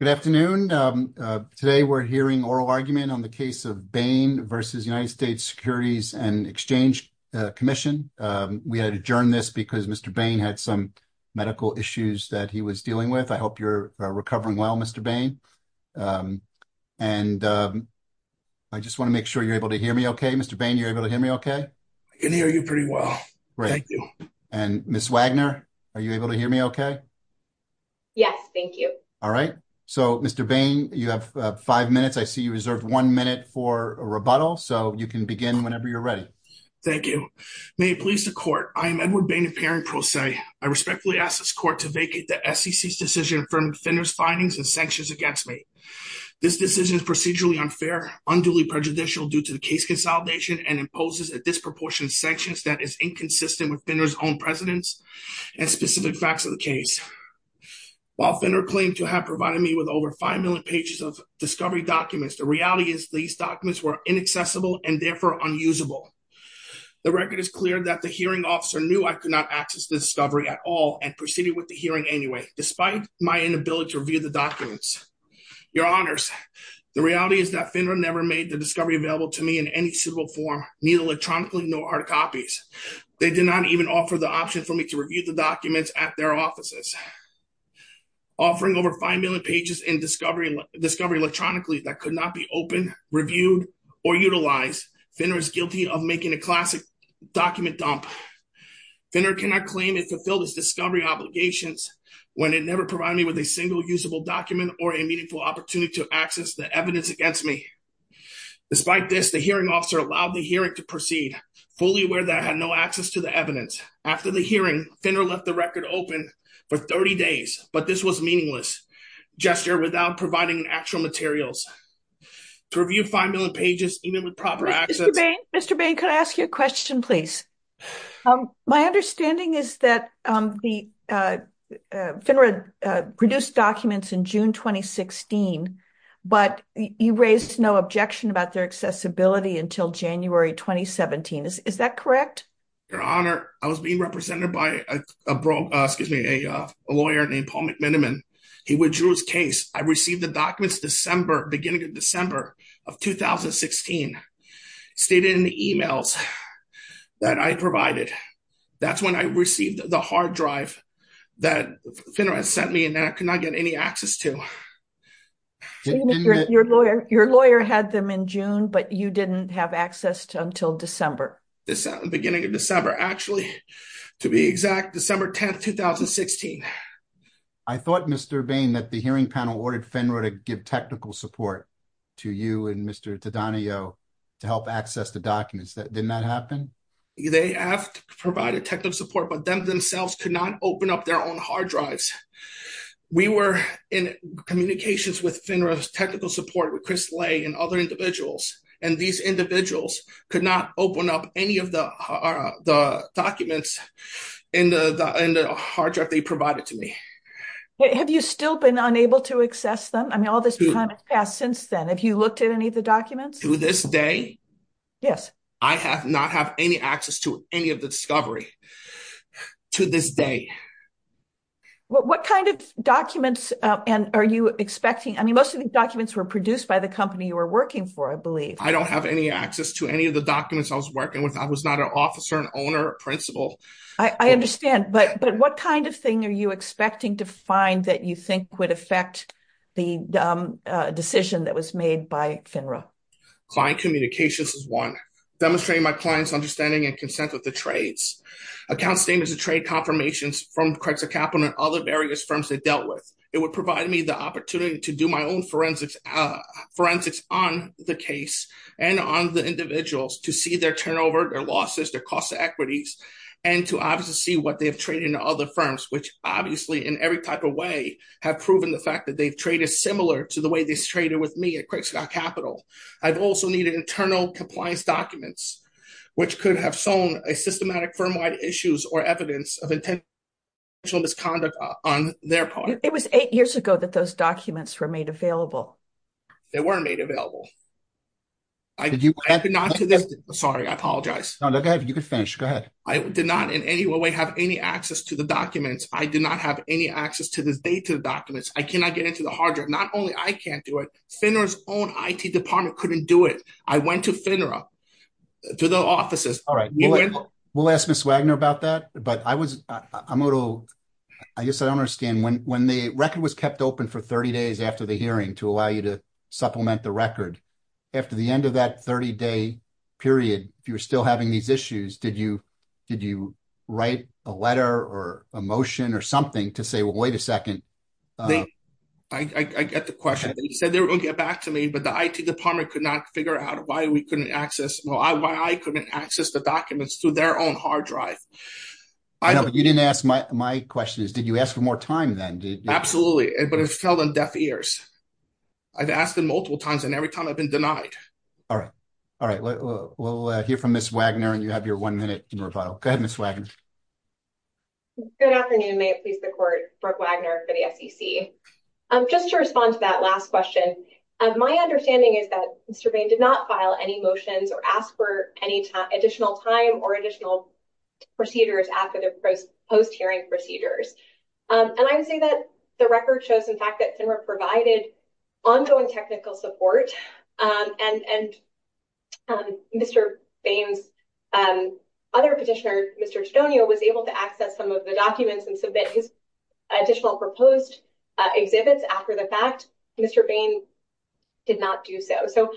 Good afternoon. Today, we're hearing oral argument on the case of Beyn v. United States Securities & Exchange Commission. We had adjourned this because Mr. Beyn had some medical issues that he was dealing with. I hope you're recovering well, Mr. Beyn. And I just want to make sure you're able to hear me okay. Mr. Beyn, you're able to hear me okay? I can hear you pretty well. Thank you. And Ms. Wagner, are you able to hear me okay? Yes, thank you. All right. So, Mr. Beyn, you have five minutes. I see you reserved one minute for a rebuttal. So, you can begin whenever you're ready. Thank you. May it please the Court, I am Edward Beyn of Perrin Pro Se. I respectfully ask this Court to vacate the SEC's decision affirming Finner's findings and sanctions against me. This decision is procedurally unfair, unduly prejudicial due to the case consolidation, and imposes a disproportionate sanctions that is inconsistent with Finner's own precedence and specific facts of the case. While Finner claimed to have provided me with over five million pages of discovery documents, the reality is these documents were inaccessible and therefore unusable. The record is clear that the hearing officer knew I could not access the discovery at all and proceeded with the hearing anyway, despite my inability to review the documents. Your Honors, the reality is that Finner never made the discovery available to me in any suitable form, neither electronically nor art copies. They did not even offer the option for me to review the documents at their offices. Offering over five million pages in discovery electronically that could not be opened, reviewed, or utilized, Finner is guilty of making a classic document dump. Finner cannot claim it fulfilled its discovery obligations when it never provided me with a single usable document or a meaningful opportunity to access the evidence against me. Despite this, the hearing officer allowed the hearing to proceed, fully aware that I had no access to the evidence. After the hearing, Finner left the record open for 30 days, but this was meaningless gesture without providing actual materials. To review five million pages, even with proper access- Mr. Bain, could I ask you a question, please? My understanding is that Finner produced documents in June 2016, but you raised no objection about their accessibility until January 2017. Is that correct? Your Honor, I was being represented by a lawyer named Paul McMiniman. He withdrew his case. I received the documents beginning of December of 2016, stated in the emails that I provided. That's when I received the hard drive that Finner had sent me and I could not get any access to. Your lawyer had them in June, but you didn't have access until December. Beginning of December, actually. To be exact, December 10th, 2016. I thought, Mr. Bain, that the hearing panel ordered Finner to give technical support to you and Mr. Tadanio to help access the documents. Didn't that happen? They have provided technical support, but them themselves could not open up their own hard drives. We were in communications with Finner's technical support with Chris Lay and other individuals, and these individuals could not open up any of the documents in the hard drive they provided to me. Have you still been unable to access them? I mean, all this time has passed since then. Have you looked at any of the documents? To this day? Yes. I have not had any access to any of the discovery to this day. What kind of documents are you expecting? I mean, most of the documents were produced by the company you were working for, I believe. I don't have any access to any of the documents I was working with. I was not an officer, an owner, a principal. I understand, but what kind of thing are you expecting to find that you think would affect the decision that was made by FINRA? Client communications is one. Demonstrating my client's understanding and consent with the trades. Account statements and trade confirmations from Craigscott Capital and other various firms they dealt with. It would provide me the opportunity to do my own forensics on the case and on the individuals to see their turnover, their losses, their cost of equities, and to obviously see what they have traded in other firms, which obviously, in every type of way, have proven the fact that they've traded similar to the way they've traded with me at Craigscott Capital. I've also needed internal compliance documents, which could have sown a systematic firm-wide issues or evidence of intentional misconduct on their part. It was eight years ago that those documents were made available. They weren't made available. I did not do this. Sorry, I apologize. No, go ahead. You can finish. Go ahead. I did not in any way have any access to the documents. I do not have any access to this data documents. I cannot get into the hard drive. Not only I can't do it, FINRA's own IT department couldn't do it. I went to FINRA, to the offices. All right. We'll ask Ms. Wagner about that, but I guess I don't understand. When the record was kept open for 30 days after the hearing to allow you to supplement the record, after the end of that 30-day period, if you were still having these issues, did you write a letter or a motion or something to say, well, wait a second? I get the question. You said they were going to get back to me, but the IT department could not figure out why we couldn't access, why I couldn't access the documents through their own hard drive. I know, but you didn't ask my questions. Did you ask for more time then? Absolutely, but it fell on deaf ears. I've asked them multiple times, and every time I've been denied. All right. All right. We'll hear from Ms. Wagner, and you have your one-minute rebuttal. Go ahead, Ms. Wagner. Good afternoon. May it please the Court, Brooke Wagner for the SEC. Just to respond to that last question, my understanding is that Mr. Bain did not file any motions or ask for any additional time or additional procedures after the post-hearing procedures. And I would say that the record shows, in fact, that FINRA provided ongoing technical support, and Mr. Bain's other petitioner, Mr. Tudonio, was able to access some of the documents and submit his additional proposed exhibits after the fact. Mr. Bain did not do so. So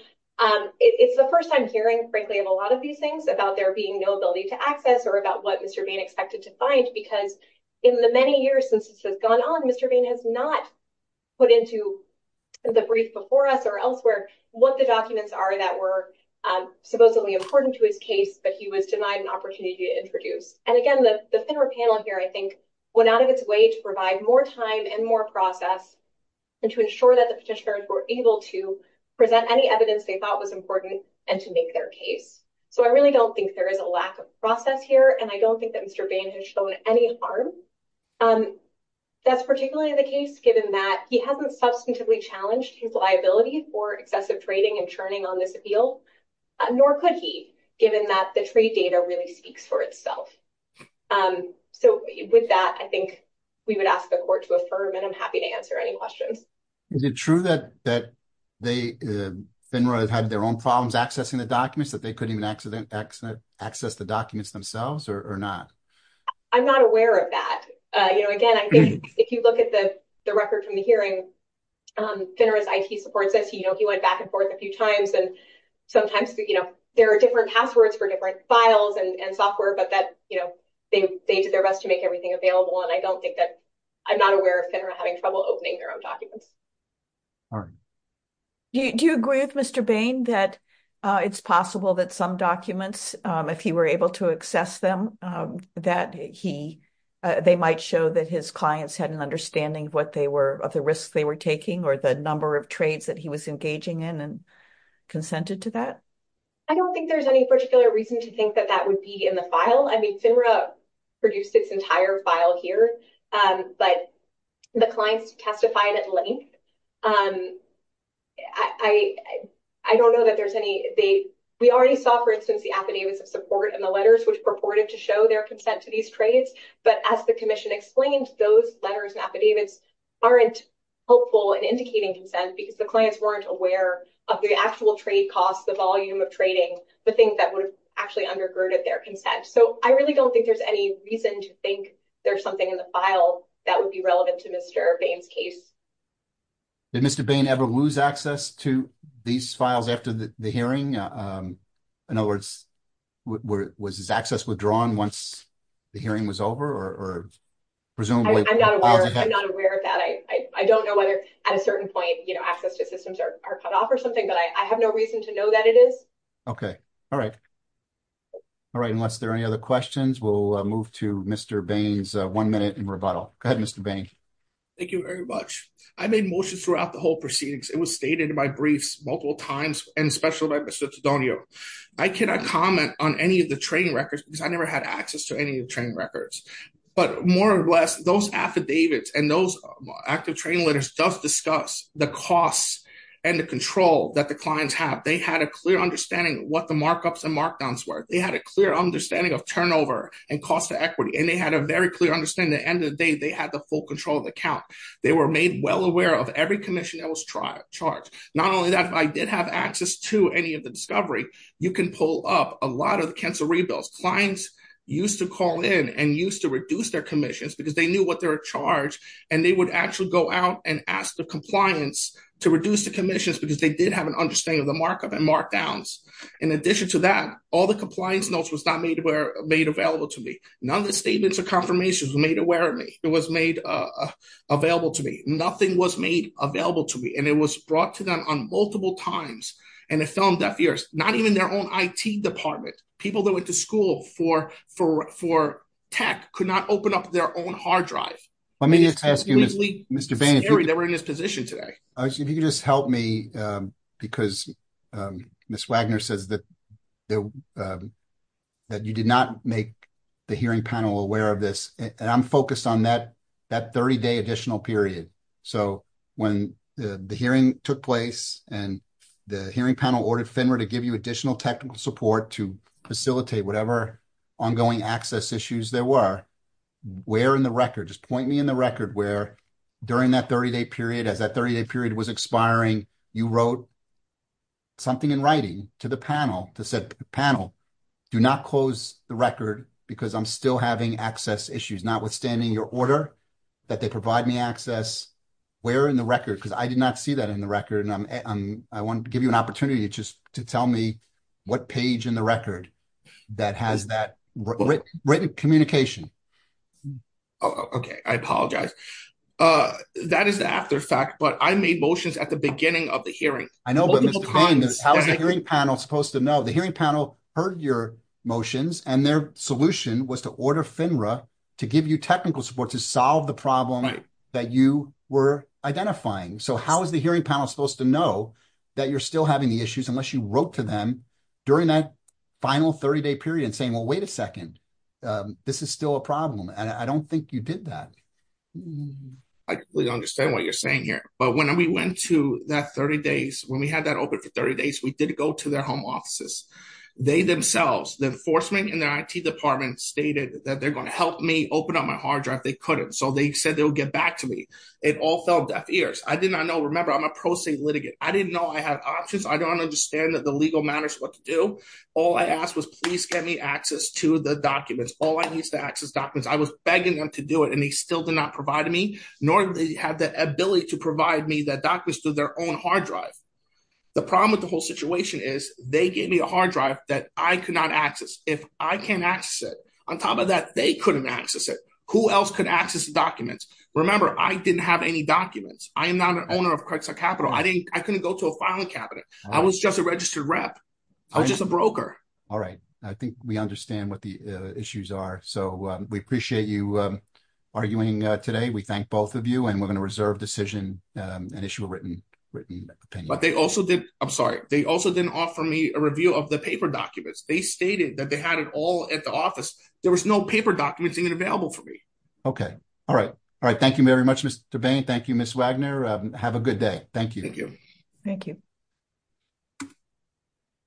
it's the first time hearing, frankly, of a lot of these things about there being no ability to access or about what Mr. Bain expected to find, because in the many years since this has gone on, Mr. Bain has not put into the brief before us or elsewhere what the documents are that were supposedly important to his case, but he was denied an opportunity to introduce. And again, the FINRA panel here, I think, went out of its way to provide more time and more process and to ensure that the petitioners were able to present any evidence they thought was important and to make their case. So I really don't think there is a lack of process here, and I don't think that Mr. Bain has shown any harm. That's particularly the case, given that he hasn't substantively challenged his liability for excessive trading and churning on this appeal, nor could he, given that the trade data really speaks for itself. So with that, I think we would ask the court to affirm, and I'm happy to answer any questions. Is it true that FINRA had their own problems accessing the documents, that they couldn't even access the documents themselves or not? I'm not aware of that. You know, again, I think if you look at the record from the hearing, FINRA's IT support says he went back and forth a few times, and sometimes there are different passwords for different files and software, but that they did their best to make everything available. And I don't think that, I'm not aware of FINRA having trouble opening their own documents. Do you agree with Mr. Bain that it's possible that some documents, if he were able to access them, that they might show that his clients had an understanding of the risks they were taking or the number of trades that he was engaging in and consented to that? I don't think there's any particular reason to think that that would be in the file. I mean, FINRA produced its entire file here, but the clients testified at length. I don't know that there's any, we already saw, for instance, the affidavits of support and the letters which purported to show their consent to these trades. But as the commission explained, those letters and affidavits aren't helpful in indicating consent because the clients weren't aware of the actual trade costs, the volume of trading, the things that would have actually undergirded their consent. So I really don't think there's any reason to think there's something in the file that would be relevant to Mr. Bain's case. Did Mr. Bain ever lose access to these files after the hearing? In other words, was his access withdrawn once the hearing was over or presumably? I'm not aware of that. I don't know whether at a certain point, you know, access to systems are cut off or something, but I have no reason to know that it is. Okay, all right. All right, unless there are any other questions, we'll move to Mr. Bain's one minute in rebuttal. Go ahead, Mr. Bain. Thank you very much. I made motions throughout the whole proceedings. It was stated in my briefs multiple times and special by Mr. Taddonio. I cannot comment on any of the trading records because I never had access to any of the trading records. But more or less, those affidavits and those active trading letters does discuss the costs and the control that the clients have. They had a clear understanding of what the markups and markdowns were. They had a clear understanding of turnover and cost of equity. And they had a very clear understanding. At the end of the day, they had the full control of the account. They were made well aware of every commission that was charged. Not only that, but I did have access to any of the discovery. You can pull up a lot of the cancel rebills. Clients used to call in and used to reduce their commissions because they knew what they were charged. And they would actually go out and ask the compliance to reduce the commissions because they did have an understanding of the markup and markdowns. In addition to that, all the compliance notes was not made available to me. None of the statements or confirmations were made aware of me. It was made available to me. Nothing was made available to me. And it was brought to them on multiple times. And it fell on deaf ears. Not even their own IT department. People that went to school for tech could not open up their own hard drive. Let me just ask you, Mr. Bain, if you could just help me, because Ms. Wagner says that you did not make the hearing panel aware of this, and I'm focused on that 30-day additional period. So, when the hearing took place and the hearing panel ordered FINRA to give you additional technical support to facilitate whatever ongoing access issues there were, where in the record, just point me in the record where, during that 30-day period, as that 30-day period was expiring, you wrote something in writing to the panel that said, panel, do not close the record because I'm still having access issues. Notwithstanding your order that they provide me access, where in the record, because I did not see that in the record. I want to give you an opportunity just to tell me what page in the record that has that written communication. Okay. I apologize. That is the after fact, but I made motions at the beginning of the hearing. I know, but Mr. Bain, how is the hearing panel supposed to know? The hearing panel heard your motions, and their solution was to order FINRA to give you technical support to solve the problem that you were identifying. So, how is the hearing panel supposed to know that you're still having the issues unless you wrote to them during that final 30-day period and saying, well, wait a second, this is still a problem, and I don't think you did that. I completely understand what you're saying here, but when we went to that 30 days, when we had that open for 30 days, we did go to their home offices. They themselves, the enforcement and their IT department stated that they're going to help me open up my hard drive if they couldn't. So, they said they'll get back to me. It all fell deaf ears. I did not know. Remember, I'm a pro se litigant. I didn't know I had options. I don't understand that the legal matters what to do. All I asked was please get me access to the documents. All I need is to access documents. I was begging them to do it, and they still did not provide me, nor did they have the ability to provide me the documents through their own hard drive. The problem with the whole situation is they gave me a hard drive that I could not access. If I can't access it, on top of that, they couldn't access it. Who else could access the documents? Remember, I didn't have any documents. I am not an owner of Cresa Capital. I couldn't go to a filing cabinet. I was just a registered rep. I was just a broker. All right. I think we understand what the issues are. So, we appreciate you arguing today. We thank both of you, and we're going to reserve decision and issue a written opinion. But they also did, I'm sorry, they also didn't offer me a review of the paper documents. They stated that they had it all at the office. There was no paper documents even available for me. Okay. All right. All right. Thank you very much, Mr. Bain. Thank you, Ms. Wagner. Have a good day. Thank you. Thank you. Thank you.